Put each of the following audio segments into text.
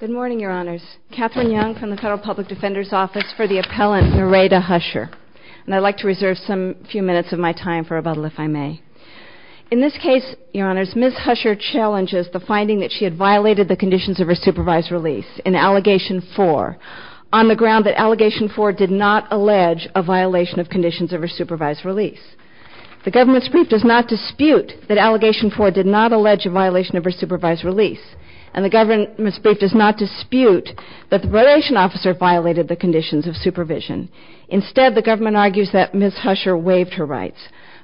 Good morning, Your Honors. Katherine Young from the Federal Public Defender's Office for the Appellant, Nereida Huscher. And I'd like to reserve some few minutes of my time for rebuttal, if I may. In this case, Your Honors, Ms. Huscher challenges the finding that she had violated the conditions of her supervised release in Allegation 4 on the ground that Allegation 4 did not allege a violation of conditions of her supervised release. The government's brief does not dispute that Allegation 4 did not allege a violation of her supervised release. And the government's brief does not dispute that the probation officer violated the conditions of supervision. Instead, the government argues that Ms. Huscher waived her rights.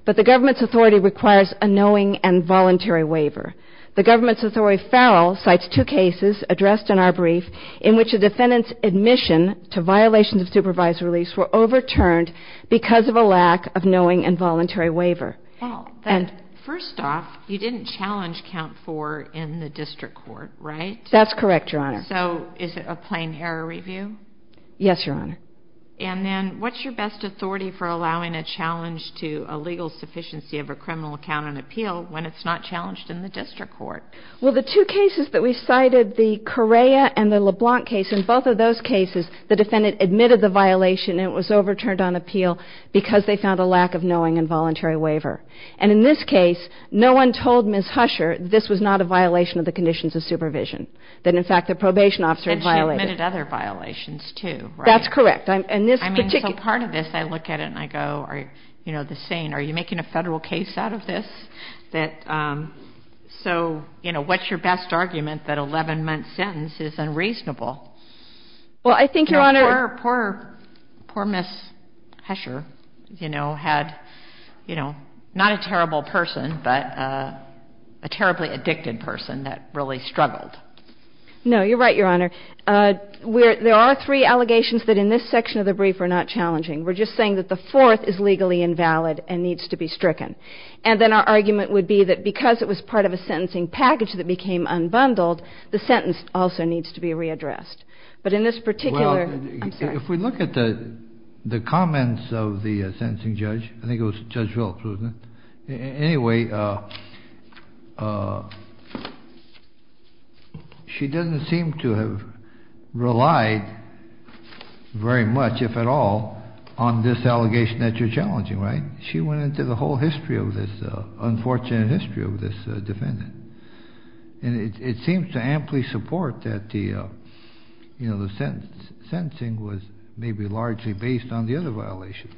But the government's authority requires a knowing and voluntary waiver. The government's authority, Farrell, cites two cases addressed in our brief in which a defendant's admission to violations of supervised release were overturned because of a lack of knowing and voluntary waiver. Well, first off, you didn't challenge Count 4 in the district court, right? That's correct, Your Honor. So is it a plain error review? Yes, Your Honor. And then what's your best authority for allowing a challenge to a legal sufficiency of a criminal account on appeal when it's not challenged in the district court? Well, the two cases that we cited, the Correa and the LeBlanc case, in both of those cases, the defendant admitted the violation and it was overturned on appeal because they found a lack of knowing and voluntary waiver. And in this case, no one told Ms. Huscher this was not a violation of the conditions of supervision, that, in fact, the probation officer had violated it. And she admitted other violations, too, right? That's correct. And this particular — I mean, so part of this, I look at it and I go, you know, the saying, are you making a federal case out of this that — so, you know, what's your best argument that an 11-month sentence is unreasonable? Well, I think, Your Honor — Poor Ms. Huscher, you know, had, you know, not a terrible person, but a terribly addicted person that really struggled. No, you're right, Your Honor. There are three allegations that in this section of the brief are not challenging. We're just saying that the fourth is legally invalid and needs to be stricken. And then our argument would be that because it was part of a sentencing package that became unbundled, the sentence also needs to be readdressed. But in this particular — Well, if we look at the comments of the sentencing judge — I think it was Judge Wilkes, wasn't it? Anyway, she doesn't seem to have relied very much, if at all, on this allegation that you're challenging, right? She went into the whole history of this — unfortunate that, you know, the sentencing was maybe largely based on the other violations.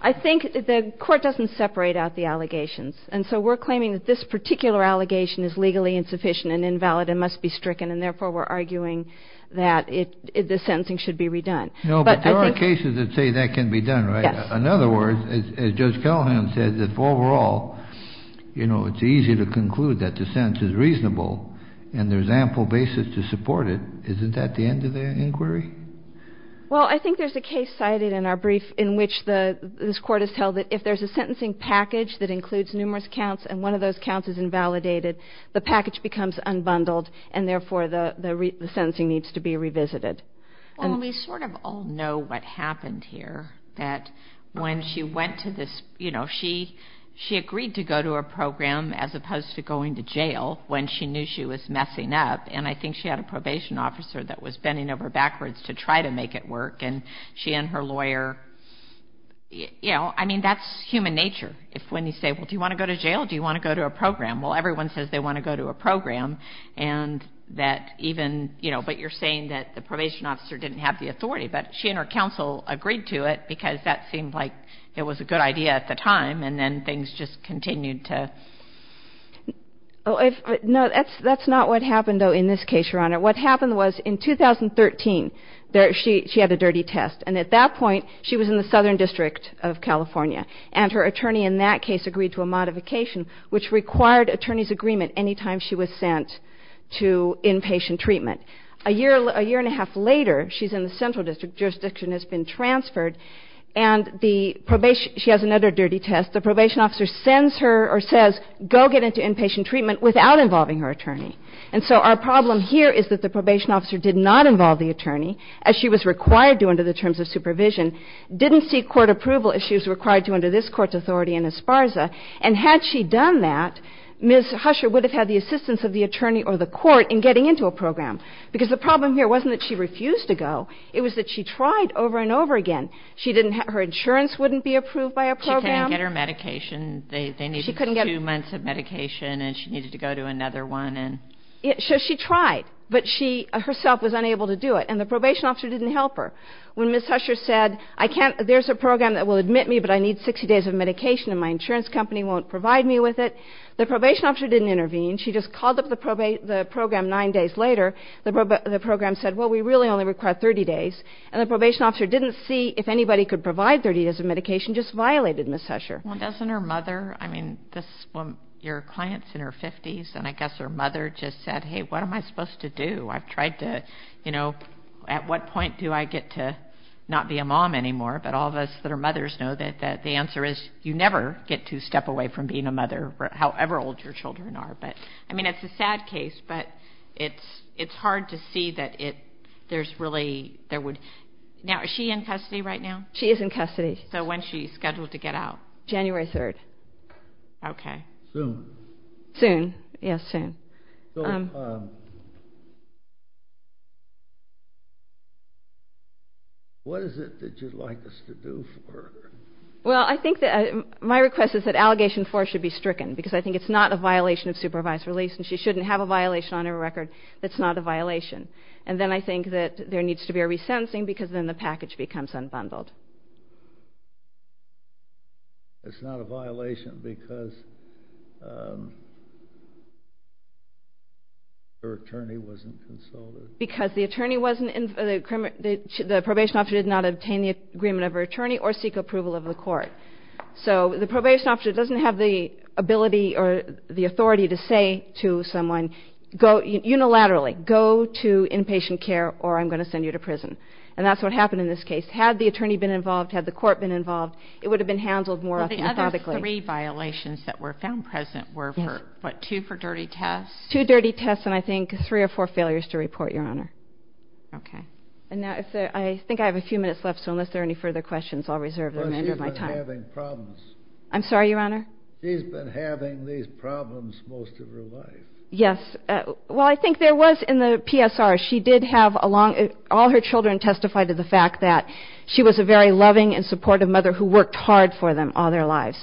I think the court doesn't separate out the allegations. And so we're claiming that this particular allegation is legally insufficient and invalid and must be stricken, and therefore we're arguing that the sentencing should be redone. No, but there are cases that say that can be done, right? Yes. In other words, as Judge Callahan said, that overall, you know, it's easy to conclude that the sentence is reasonable, and there's ample basis to support it. Isn't that the end of the inquiry? Well, I think there's a case cited in our brief in which this court has held that if there's a sentencing package that includes numerous counts and one of those counts is invalidated, the package becomes unbundled, and therefore the sentencing needs to be revisited. Well, we sort of all know what happened here, that when she went to this — you know, she agreed to go to a program as opposed to going to jail when she knew she was messing up, and I think she had a probation officer that was bending over backwards to try to make it work, and she and her lawyer — you know, I mean, that's human nature, when you say, well, do you want to go to jail or do you want to go to a program? Well, everyone says they want to go to a program, and that even — you know, but you're saying that the probation officer didn't have the authority, but she and her counsel agreed to it because that she had a dirty test. And at that point, she was in the Southern District of California, and her attorney in that case agreed to a modification, which required attorney's agreement any time she was sent to inpatient treatment. A year and a half later, she's in the Central District. Jurisdiction has been transferred, and the probation — she has another dirty test. And so our problem here is that the probation officer did not involve the attorney, as she was required to under the terms of supervision, didn't seek court approval as she was required to under this Court's authority in Esparza, and had she done that, Ms. Husher would have had the assistance of the attorney or the court in getting into a program, because the problem here wasn't that she refused to go. It was that she tried over and over again. She didn't have — her insurance wouldn't be approved by a program. She couldn't get her medication. They needed two months of medication, and she needed to go to another one. So she tried, but she herself was unable to do it. And the probation officer didn't help her. When Ms. Husher said, I can't — there's a program that will admit me, but I need 60 days of medication, and my insurance company won't provide me with it, the probation officer didn't intervene. She just called up the program nine days later. The program said, well, we really only require 30 days. And the probation officer didn't see if anybody could provide 30 days of medication, just violated Ms. Husher. Well, doesn't her mother — I mean, this woman, your client's in her 50s, and I guess her mother just said, hey, what am I supposed to do? I've tried to — you know, at what point do I get to not be a mom anymore? But all of us that are mothers know that the answer is you never get to step away from being a mother, however old your children are. But, I mean, it's a sad case, but it's hard to see that there's really — there would — now, is she in custody right now? She is in custody. So when is she scheduled to get out? January 3rd. Okay. Soon. Soon, yes, soon. So what is it that you'd like us to do for her? Well, I think that — my request is that Allegation 4 should be stricken because I think it's not a violation of supervised release, and she shouldn't have a violation on her record that's not a violation. And then I think that there needs to be a resentencing because then the package becomes unbundled. It's not a violation because her attorney wasn't consulted? Because the attorney wasn't — the probation officer did not obtain the agreement of her attorney or seek approval of the court. So the probation officer doesn't have the ability or the authority to say to someone, go unilaterally, go to inpatient care or I'm going to send you to prison. And that's what happened in this case. Had the attorney been involved, had the court been involved, it would have been handled more ethically. The other three violations that were found present were for, what, two for dirty tests? Two dirty tests and I think three or four failures to report, Your Honor. Okay. And now if there — I think I have a few minutes left, so unless there are any further questions, I'll reserve the remainder of my time. Well, she's been having problems. I'm sorry, Your Honor? She's been having these problems most of her life. Yes. Well, I think there was in the PSR, she did have a long — all her children testified to the fact that she was a very loving and supportive mother who worked hard for them all their lives.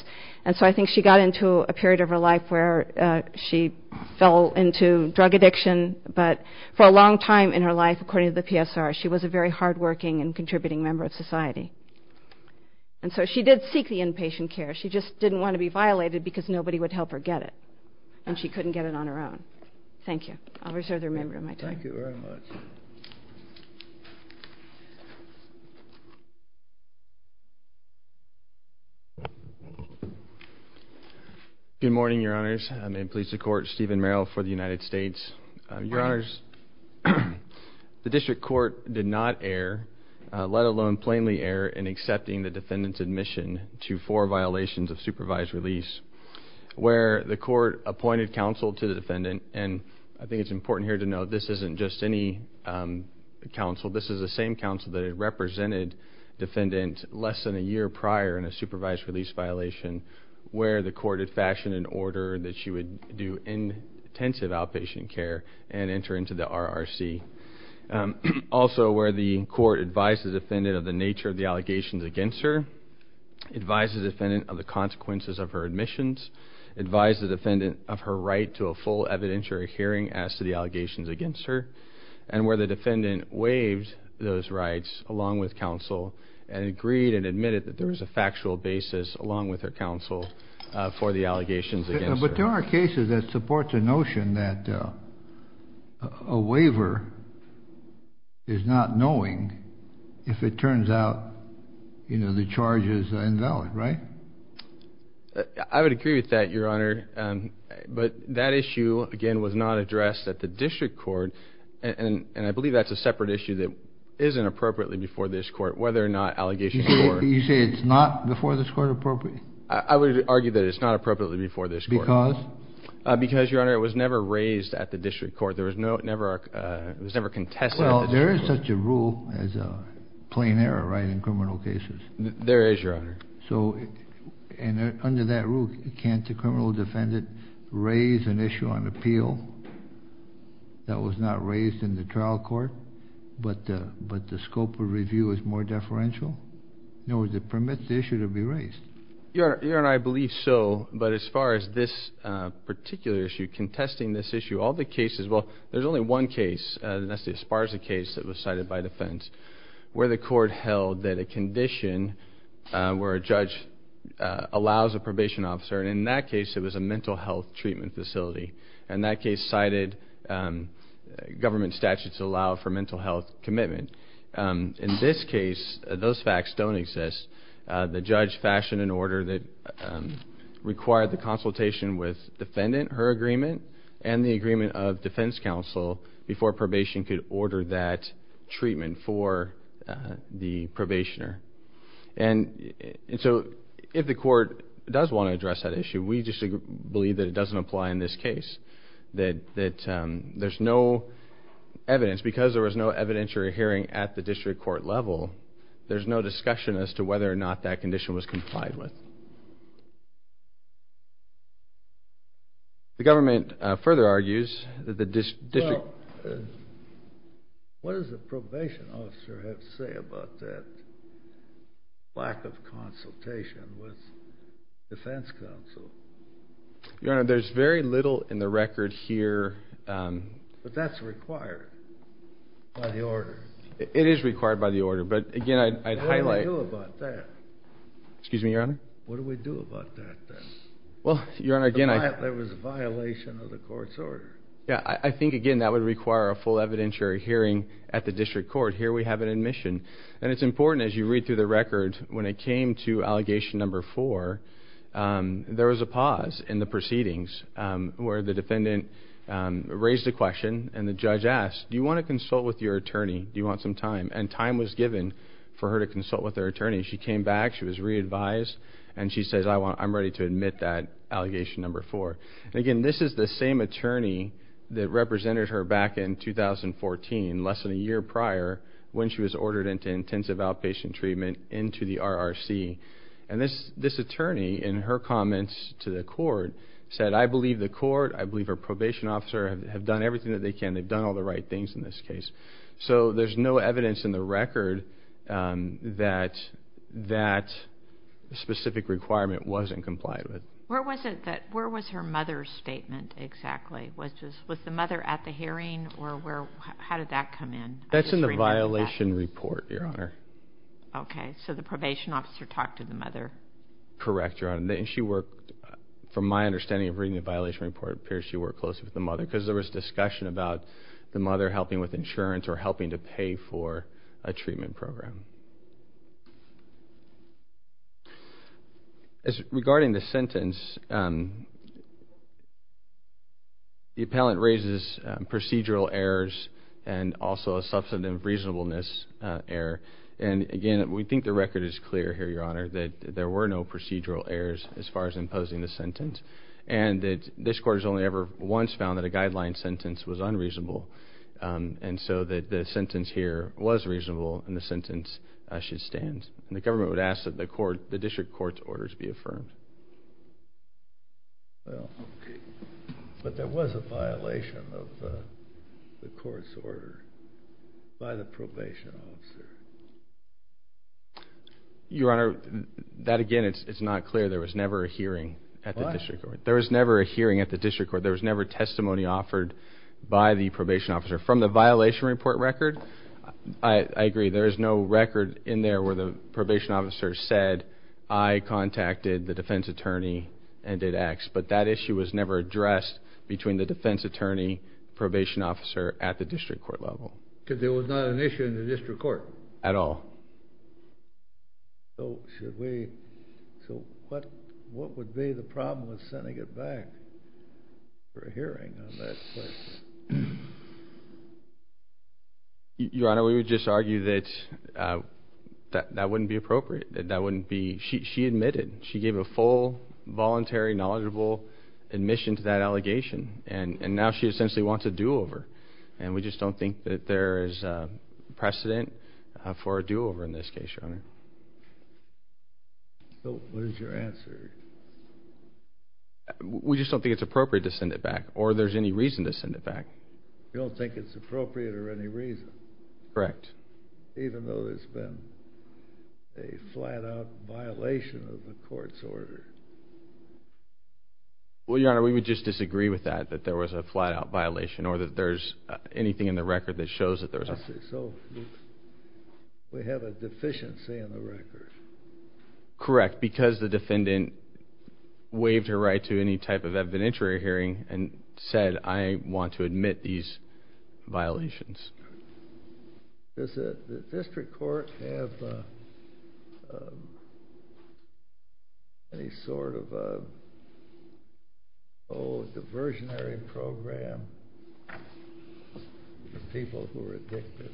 And so I think she got into a period of her life where she fell into drug addiction. But for a long time in her life, according to the PSR, she was a very hardworking and contributing member of society. And so she did seek the inpatient care. She just didn't want to be violated because nobody would help her get it. And she couldn't get it on her own. Thank you. I'll reserve the remainder of my time. Thank you very much. Good morning, Your Honors. May it please the Court, Stephen Merrill for the United States. Your Honors, the District Court did not err, let alone plainly err, in accepting the defendant's admission to four violations of supervised release where the court appointed counsel to the defendant. And I think it's important here to note this isn't just any counsel. This is the same counsel that had represented defendant less than a year prior in a supervised release violation where the court had fashioned an order that she would do intensive outpatient care and enter into the RRC. Also, where the court advised the defendant of the nature of the allegations against her, advised the defendant of the consequences of her admissions, advised the defendant of her right to a full evidentiary hearing as to the allegations against her, and where the defendant waived those rights along with counsel and agreed and admitted that there was a factual basis along with her counsel for the allegations against her. But there are cases that support the notion that a waiver is not knowing if it turns out, you know, the charge is invalid, right? I would agree with that, Your Honor. But that issue, again, was not addressed at the District Court. And I believe that's a separate issue that isn't appropriately before this court, whether or not allegations were. You say it's not before this court appropriate? I would argue that it's not appropriately before this court. Because? Because, Your Honor, it was never raised at the District Court. There was never contested at the District Court. There is such a rule as a plain error, right, in criminal cases. There is, Your Honor. So under that rule, can't the criminal defendant raise an issue on appeal that was not raised in the trial court, but the scope of review is more deferential? In other words, it permits the issue to be raised. Your Honor, I believe so. But as far as this particular issue, contesting this issue, all the cases, well, there's only one case, and that's the Esparza case that was cited by defense, where the court held that a condition where a judge allows a probation officer, and in that case it was a mental health treatment facility. And that case cited government statutes that allow for mental health commitment. In this case, those facts don't exist. The judge fashioned an order that required the consultation with defendant, her agreement, and the agreement of defense counsel before probation could order that treatment for the probationer. And so if the court does want to address that issue, we just believe that it doesn't apply in this case, that there's no evidence. Because there was no evidentiary hearing at the District Court level, there's no discussion as to whether or not that condition was complied with. The government further argues that the district... Well, what does the probation officer have to say about that lack of consultation with defense counsel? Your Honor, there's very little in the record here... But that's required by the order. It is required by the order. But again, I'd highlight... What do we do about that? Excuse me, Your Honor? What do we do about that, then? Well, Your Honor, again, I... There was a violation of the court's order. Yeah, I think, again, that would require a full evidentiary hearing at the District Court. Here we have an admission. And it's important, as you read through the record, when it came to allegation number four, there was a pause in the proceedings where the defendant raised a question, and the judge asked, Do you want to consult with your attorney? Do you want some time? And time was given for her to consult with her attorney. She came back. She was re-advised. And she says, I'm ready to admit that allegation number four. Again, this is the same attorney that represented her back in 2014, less than a year prior, when she was ordered into intensive outpatient treatment into the RRC. And this attorney, in her comments to the court, said, I believe the court, I believe her probation officer have done everything that they can. They've done all the right things in this case. So there's no evidence in the record that that specific requirement wasn't complied with. Where was her mother's statement exactly? Was the mother at the hearing? Or how did that come in? That's in the violation report, Your Honor. Okay. So the probation officer talked to the mother. Correct, Your Honor. And she worked, from my understanding of reading the violation report, it appears she worked closely with the mother. Because there was discussion about the mother helping with insurance or helping to pay for a treatment program. Regarding the sentence, the appellant raises procedural errors and also a substantive reasonableness error. And again, we think the record is clear here, Your Honor, that there were no procedural errors as far as imposing the sentence. And that this court has only ever once found that a guideline sentence was unreasonable. And so the sentence here was reasonable and the sentence should stand. And the government would ask that the district court's orders be affirmed. Well, okay. But there was a violation of the court's order by the probation officer. Your Honor, that again, it's not clear. There was never a hearing at the district court. What? There was never a hearing at the district court. There was never testimony offered by the probation officer. From the violation report record, I agree. There is no record in there where the probation officer said, I contacted the defense attorney and did X. But that issue was never addressed between the defense attorney, probation officer at the district court level. Because there was not an issue in the district court? At all. So what would be the problem with sending it back for a hearing on that? Your Honor, we would just argue that that wouldn't be appropriate. She admitted. She gave a full, voluntary, knowledgeable admission to that allegation. And now she essentially wants a do-over. And we just don't think that there is precedent for a do-over in this case, Your Honor. So what is your answer? We just don't think it's appropriate to send it back. Or there's any reason to send it back. You don't think it's appropriate or any reason? Correct. Even though there's been a flat-out violation of the court's order? Well, Your Honor, we would just disagree with that, that there was a flat-out violation or that there's anything in the record that shows that there was a flat-out violation. So we have a deficiency in the record? Correct. Because the defendant waived her right to any type of evidentiary hearing and said, I want to admit these violations. Does the district court have any sort of a diversionary program for people who are addicted?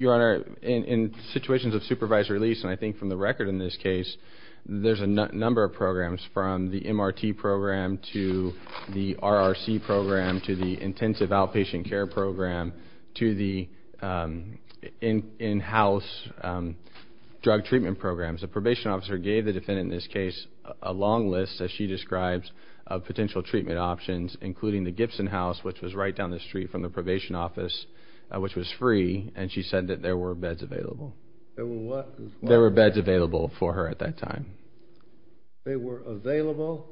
Your Honor, in situations of supervised release, and I think from the record in this case, there's a number of programs from the MRT program to the RRC program to the intensive outpatient care program to the in-house drug treatment programs. The probation officer gave the defendant in this case a long list, as she describes, of potential treatment options, including the Gibson House, which was right down the street from the probation office, which was free, and she said that there were beds available. There were what? There were beds available for her at that time. They were available?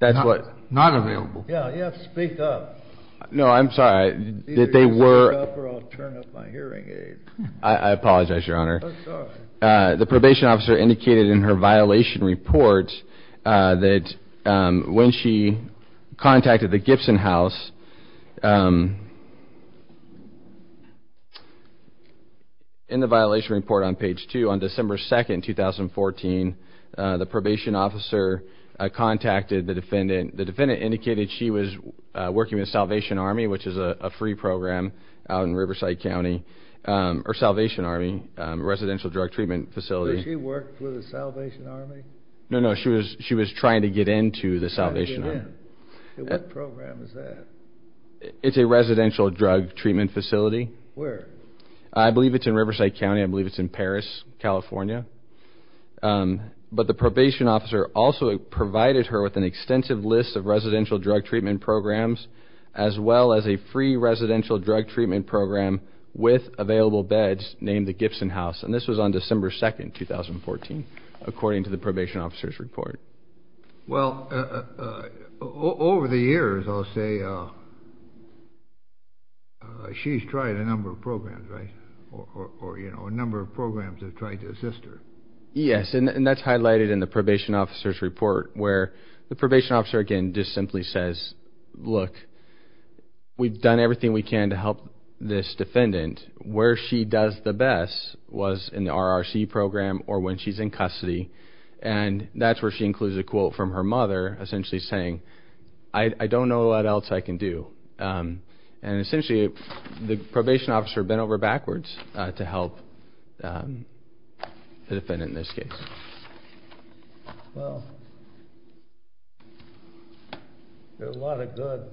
That's what. Not available. Yeah, speak up. No, I'm sorry. Either you speak up or I'll turn up my hearing aid. I apologize, Your Honor. The probation officer indicated in her violation report that when she contacted the Gibson House, in the violation report on page 2, on December 2, 2014, the probation officer contacted the defendant. The defendant indicated she was working with Salvation Army, which is a free program out in Riverside County, or Salvation Army, residential drug treatment facility. Did she work for the Salvation Army? No, no, she was trying to get into the Salvation Army. Trying to get in. What program is that? It's a residential drug treatment facility. Where? I believe it's in Riverside County. I believe it's in Paris, California. But the probation officer also provided her with an extensive list of residential drug treatment programs, as well as a free residential drug treatment program with available beds named the Gibson House, and this was on December 2, 2014, according to the probation officer's report. Well, over the years, I'll say, she's tried a number of programs, right? Or, you know, a number of programs have tried to assist her. Yes, and that's highlighted in the probation officer's report, where the probation officer, again, just simply says, look, we've done everything we can to help this defendant. Where she does the best was in the RRC program or when she's in custody, and that's where she includes a quote from her mother, essentially saying, I don't know what else I can do. And essentially, the probation officer bent over backwards to help the defendant in this case. Well, there are a lot of good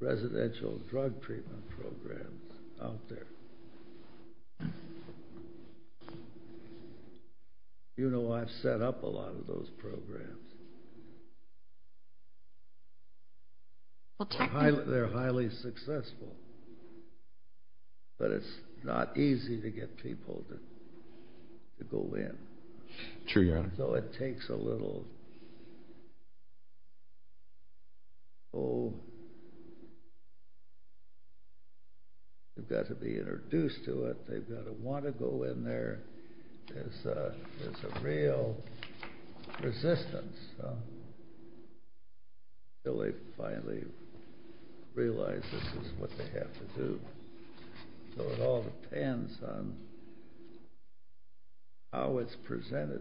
residential drug treatment programs out there. You know I've set up a lot of those programs. They're highly successful, but it's not easy to get people to go in. True, Your Honor. So it takes a little, oh, you've got to be introduced to it. They've got to want to go in there. There's a real resistance until they finally realize this is what they have to do. So it all depends on how it's presented to them.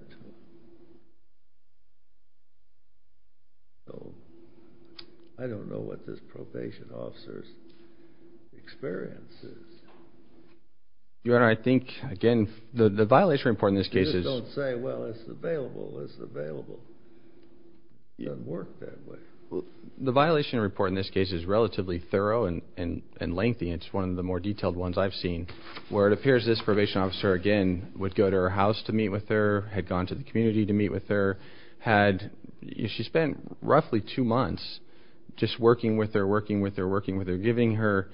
So I don't know what this probation officer's experience is. Your Honor, I think, again, the violation report in this case is You just don't say, well, it's available, it's available. It doesn't work that way. The violation report in this case is relatively thorough and lengthy. It's one of the more detailed ones I've seen, where it appears this probation officer, again, would go to her house to meet with her, had gone to the community to meet with her. She spent roughly two months just working with her, working with her, working with her, giving her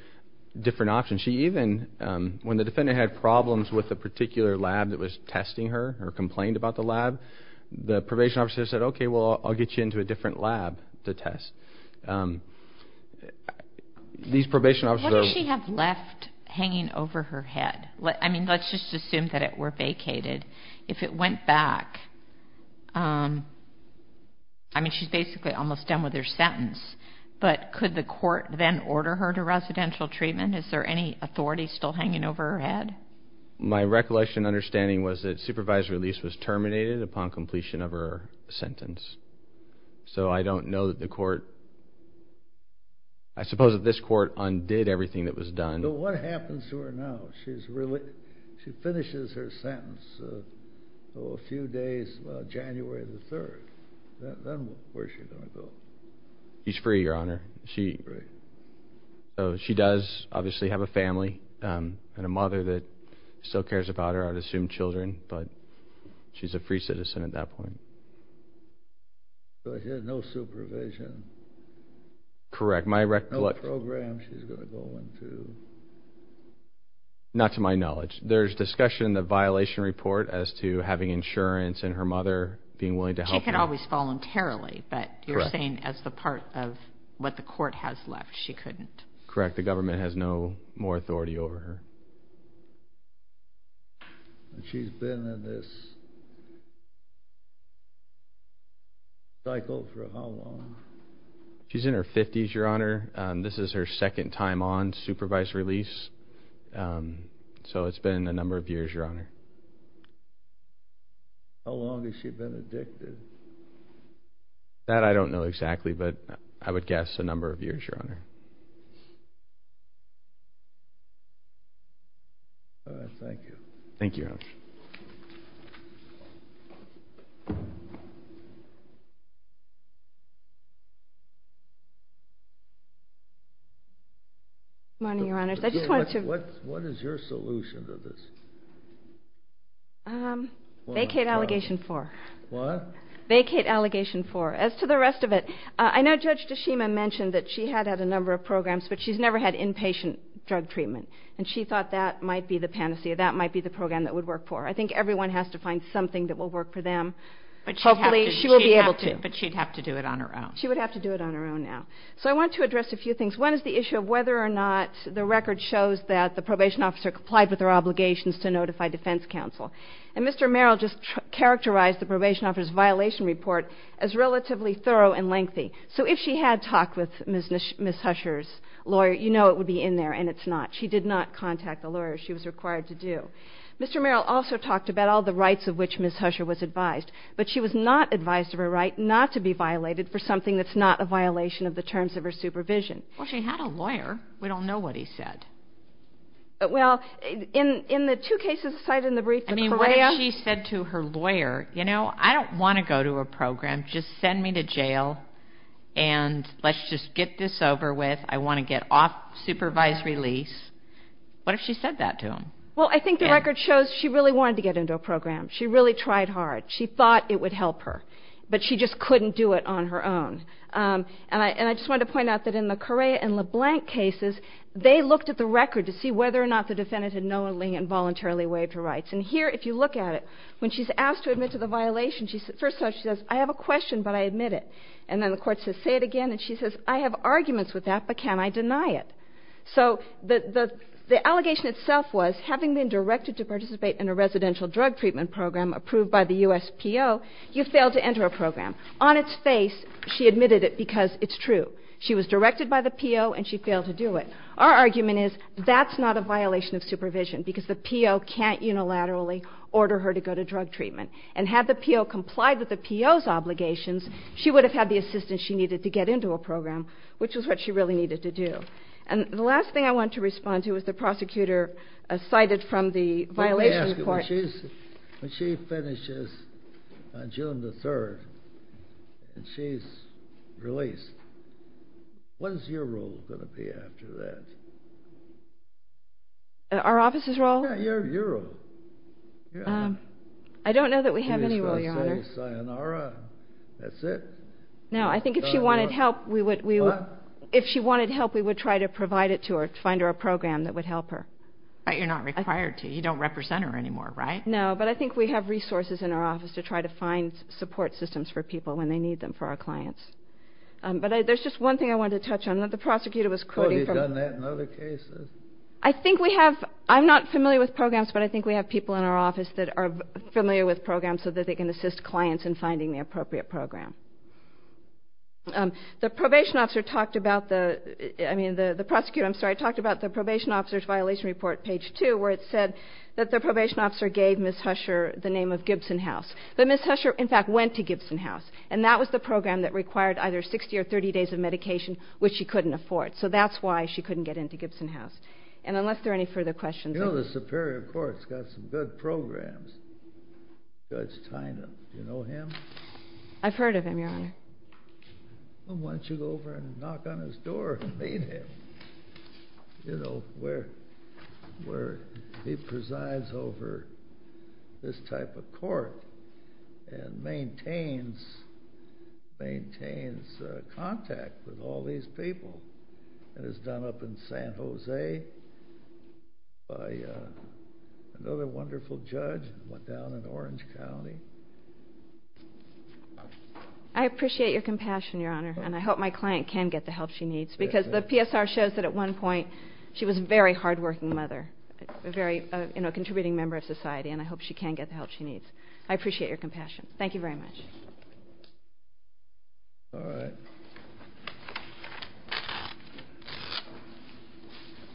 different options. She even, when the defendant had problems with a particular lab that was testing her or complained about the lab, the probation officer said, okay, well, I'll get you into a different lab to test. These probation officers are What did she have left hanging over her head? I mean, let's just assume that it were vacated. If it went back, I mean, she's basically almost done with her sentence, but could the court then order her to residential treatment? Is there any authority still hanging over her head? My recollection and understanding was that supervisor Elise was terminated upon completion of her sentence. So I don't know that the court, I suppose that this court undid everything that was done. So what happens to her now? She finishes her sentence, oh, a few days, about January the 3rd. Then where is she going to go? She's free, Your Honor. She does obviously have a family and a mother that still cares about her. I would assume children, but she's a free citizen at that point. So she has no supervision. Correct. No program she's going to go into. Not to my knowledge. There's discussion in the violation report as to having insurance and her mother being willing to help her. She could always voluntarily, but you're saying as the part of what the court has left she couldn't. Correct. The government has no more authority over her. She's been in this cycle for how long? She's in her 50s, Your Honor. This is her second time on supervised release. So it's been a number of years, Your Honor. How long has she been addicted? That I don't know exactly, but I would guess a number of years, Your Honor. All right. Thank you. Thank you, Your Honor. Good morning, Your Honors. What is your solution to this? Vacate Allegation 4. What? Vacate Allegation 4. As to the rest of it, I know Judge DeShima mentioned that she had had a number of programs, but she's never had inpatient drug treatment, and she thought that might be the panacea. That might be the program that would work for her. I think everyone has to find something that will work for them. Hopefully, she will be able to. But she'd have to do it on her own. She would have to do it on her own now. So I want to address a few things. One is the issue of whether or not the record shows that the probation officer complied with her obligations to notify defense counsel. And Mr. Merrill just characterized the probation officer's violation report as relatively thorough and lengthy. So if she had talked with Ms. Husher's lawyer, you know it would be in there, and it's not. She did not contact the lawyer. She was required to do. Mr. Merrill also talked about all the rights of which Ms. Husher was advised, but she was not advised of her right not to be violated for something that's not a violation of the terms of her supervision. Well, she had a lawyer. We don't know what he said. Well, in the two cases cited in the brief, the CREA. I mean, what if she said to her lawyer, you know, I don't want to go to a program. Just send me to jail, and let's just get this over with. I want to get off supervised release. What if she said that to him? Well, I think the record shows she really wanted to get into a program. She really tried hard. She thought it would help her, but she just couldn't do it on her own. And I just wanted to point out that in the CREA and LeBlanc cases, they looked at the record to see whether or not the defendant had knowingly and voluntarily waived her rights. And here, if you look at it, when she's asked to admit to the violation, first of all, she says, I have a question, but I admit it. And then the court says, say it again. And she says, I have arguments with that, but can I deny it? So the allegation itself was having been directed to participate in a residential drug treatment program approved by the USPO, you failed to enter a program. On its face, she admitted it because it's true. She was directed by the PO, and she failed to do it. Our argument is that's not a violation of supervision because the PO can't unilaterally order her to go to drug treatment. And had the PO complied with the PO's obligations, she would have had the assistance she needed to get into a program, which is what she really needed to do. And the last thing I want to respond to is the prosecutor cited from the violation court. Let me ask you, when she finishes on June the 3rd and she's released, what is your role going to be after that? Our office's role? I don't know that we have any role, Your Honor. Say sayonara. That's it. No, I think if she wanted help, we would try to provide it to her, find her a program that would help her. But you're not required to. You don't represent her anymore, right? No, but I think we have resources in our office to try to find support systems for people when they need them for our clients. But there's just one thing I wanted to touch on that the prosecutor was quoting from. Oh, you've done that in other cases. I think we have, I'm not familiar with programs, but I think we have people in our office that are familiar with programs so that they can assist clients in finding the appropriate program. The probation officer talked about the, I mean, the prosecutor, I'm sorry, talked about the probation officer's violation report, page 2, where it said that the probation officer gave Ms. Husher the name of Gibson House. But Ms. Husher, in fact, went to Gibson House, and that was the program that required either 60 or 30 days of medication, which she couldn't afford. So that's why she couldn't get into Gibson House. And unless there are any further questions. You know, the Superior Court's got some good programs. Judge Tynan, do you know him? I've heard of him, Your Honor. Well, why don't you go over and knock on his door and meet him? You know, where he presides over this type of court and maintains contact with all these people. It was done up in San Jose by another wonderful judge. It went down in Orange County. I appreciate your compassion, Your Honor, and I hope my client can get the help she needs, because the PSR shows that at one point she was a very hardworking mother, a contributing member of society, and I hope she can get the help she needs. I appreciate your compassion. Thank you very much. All right.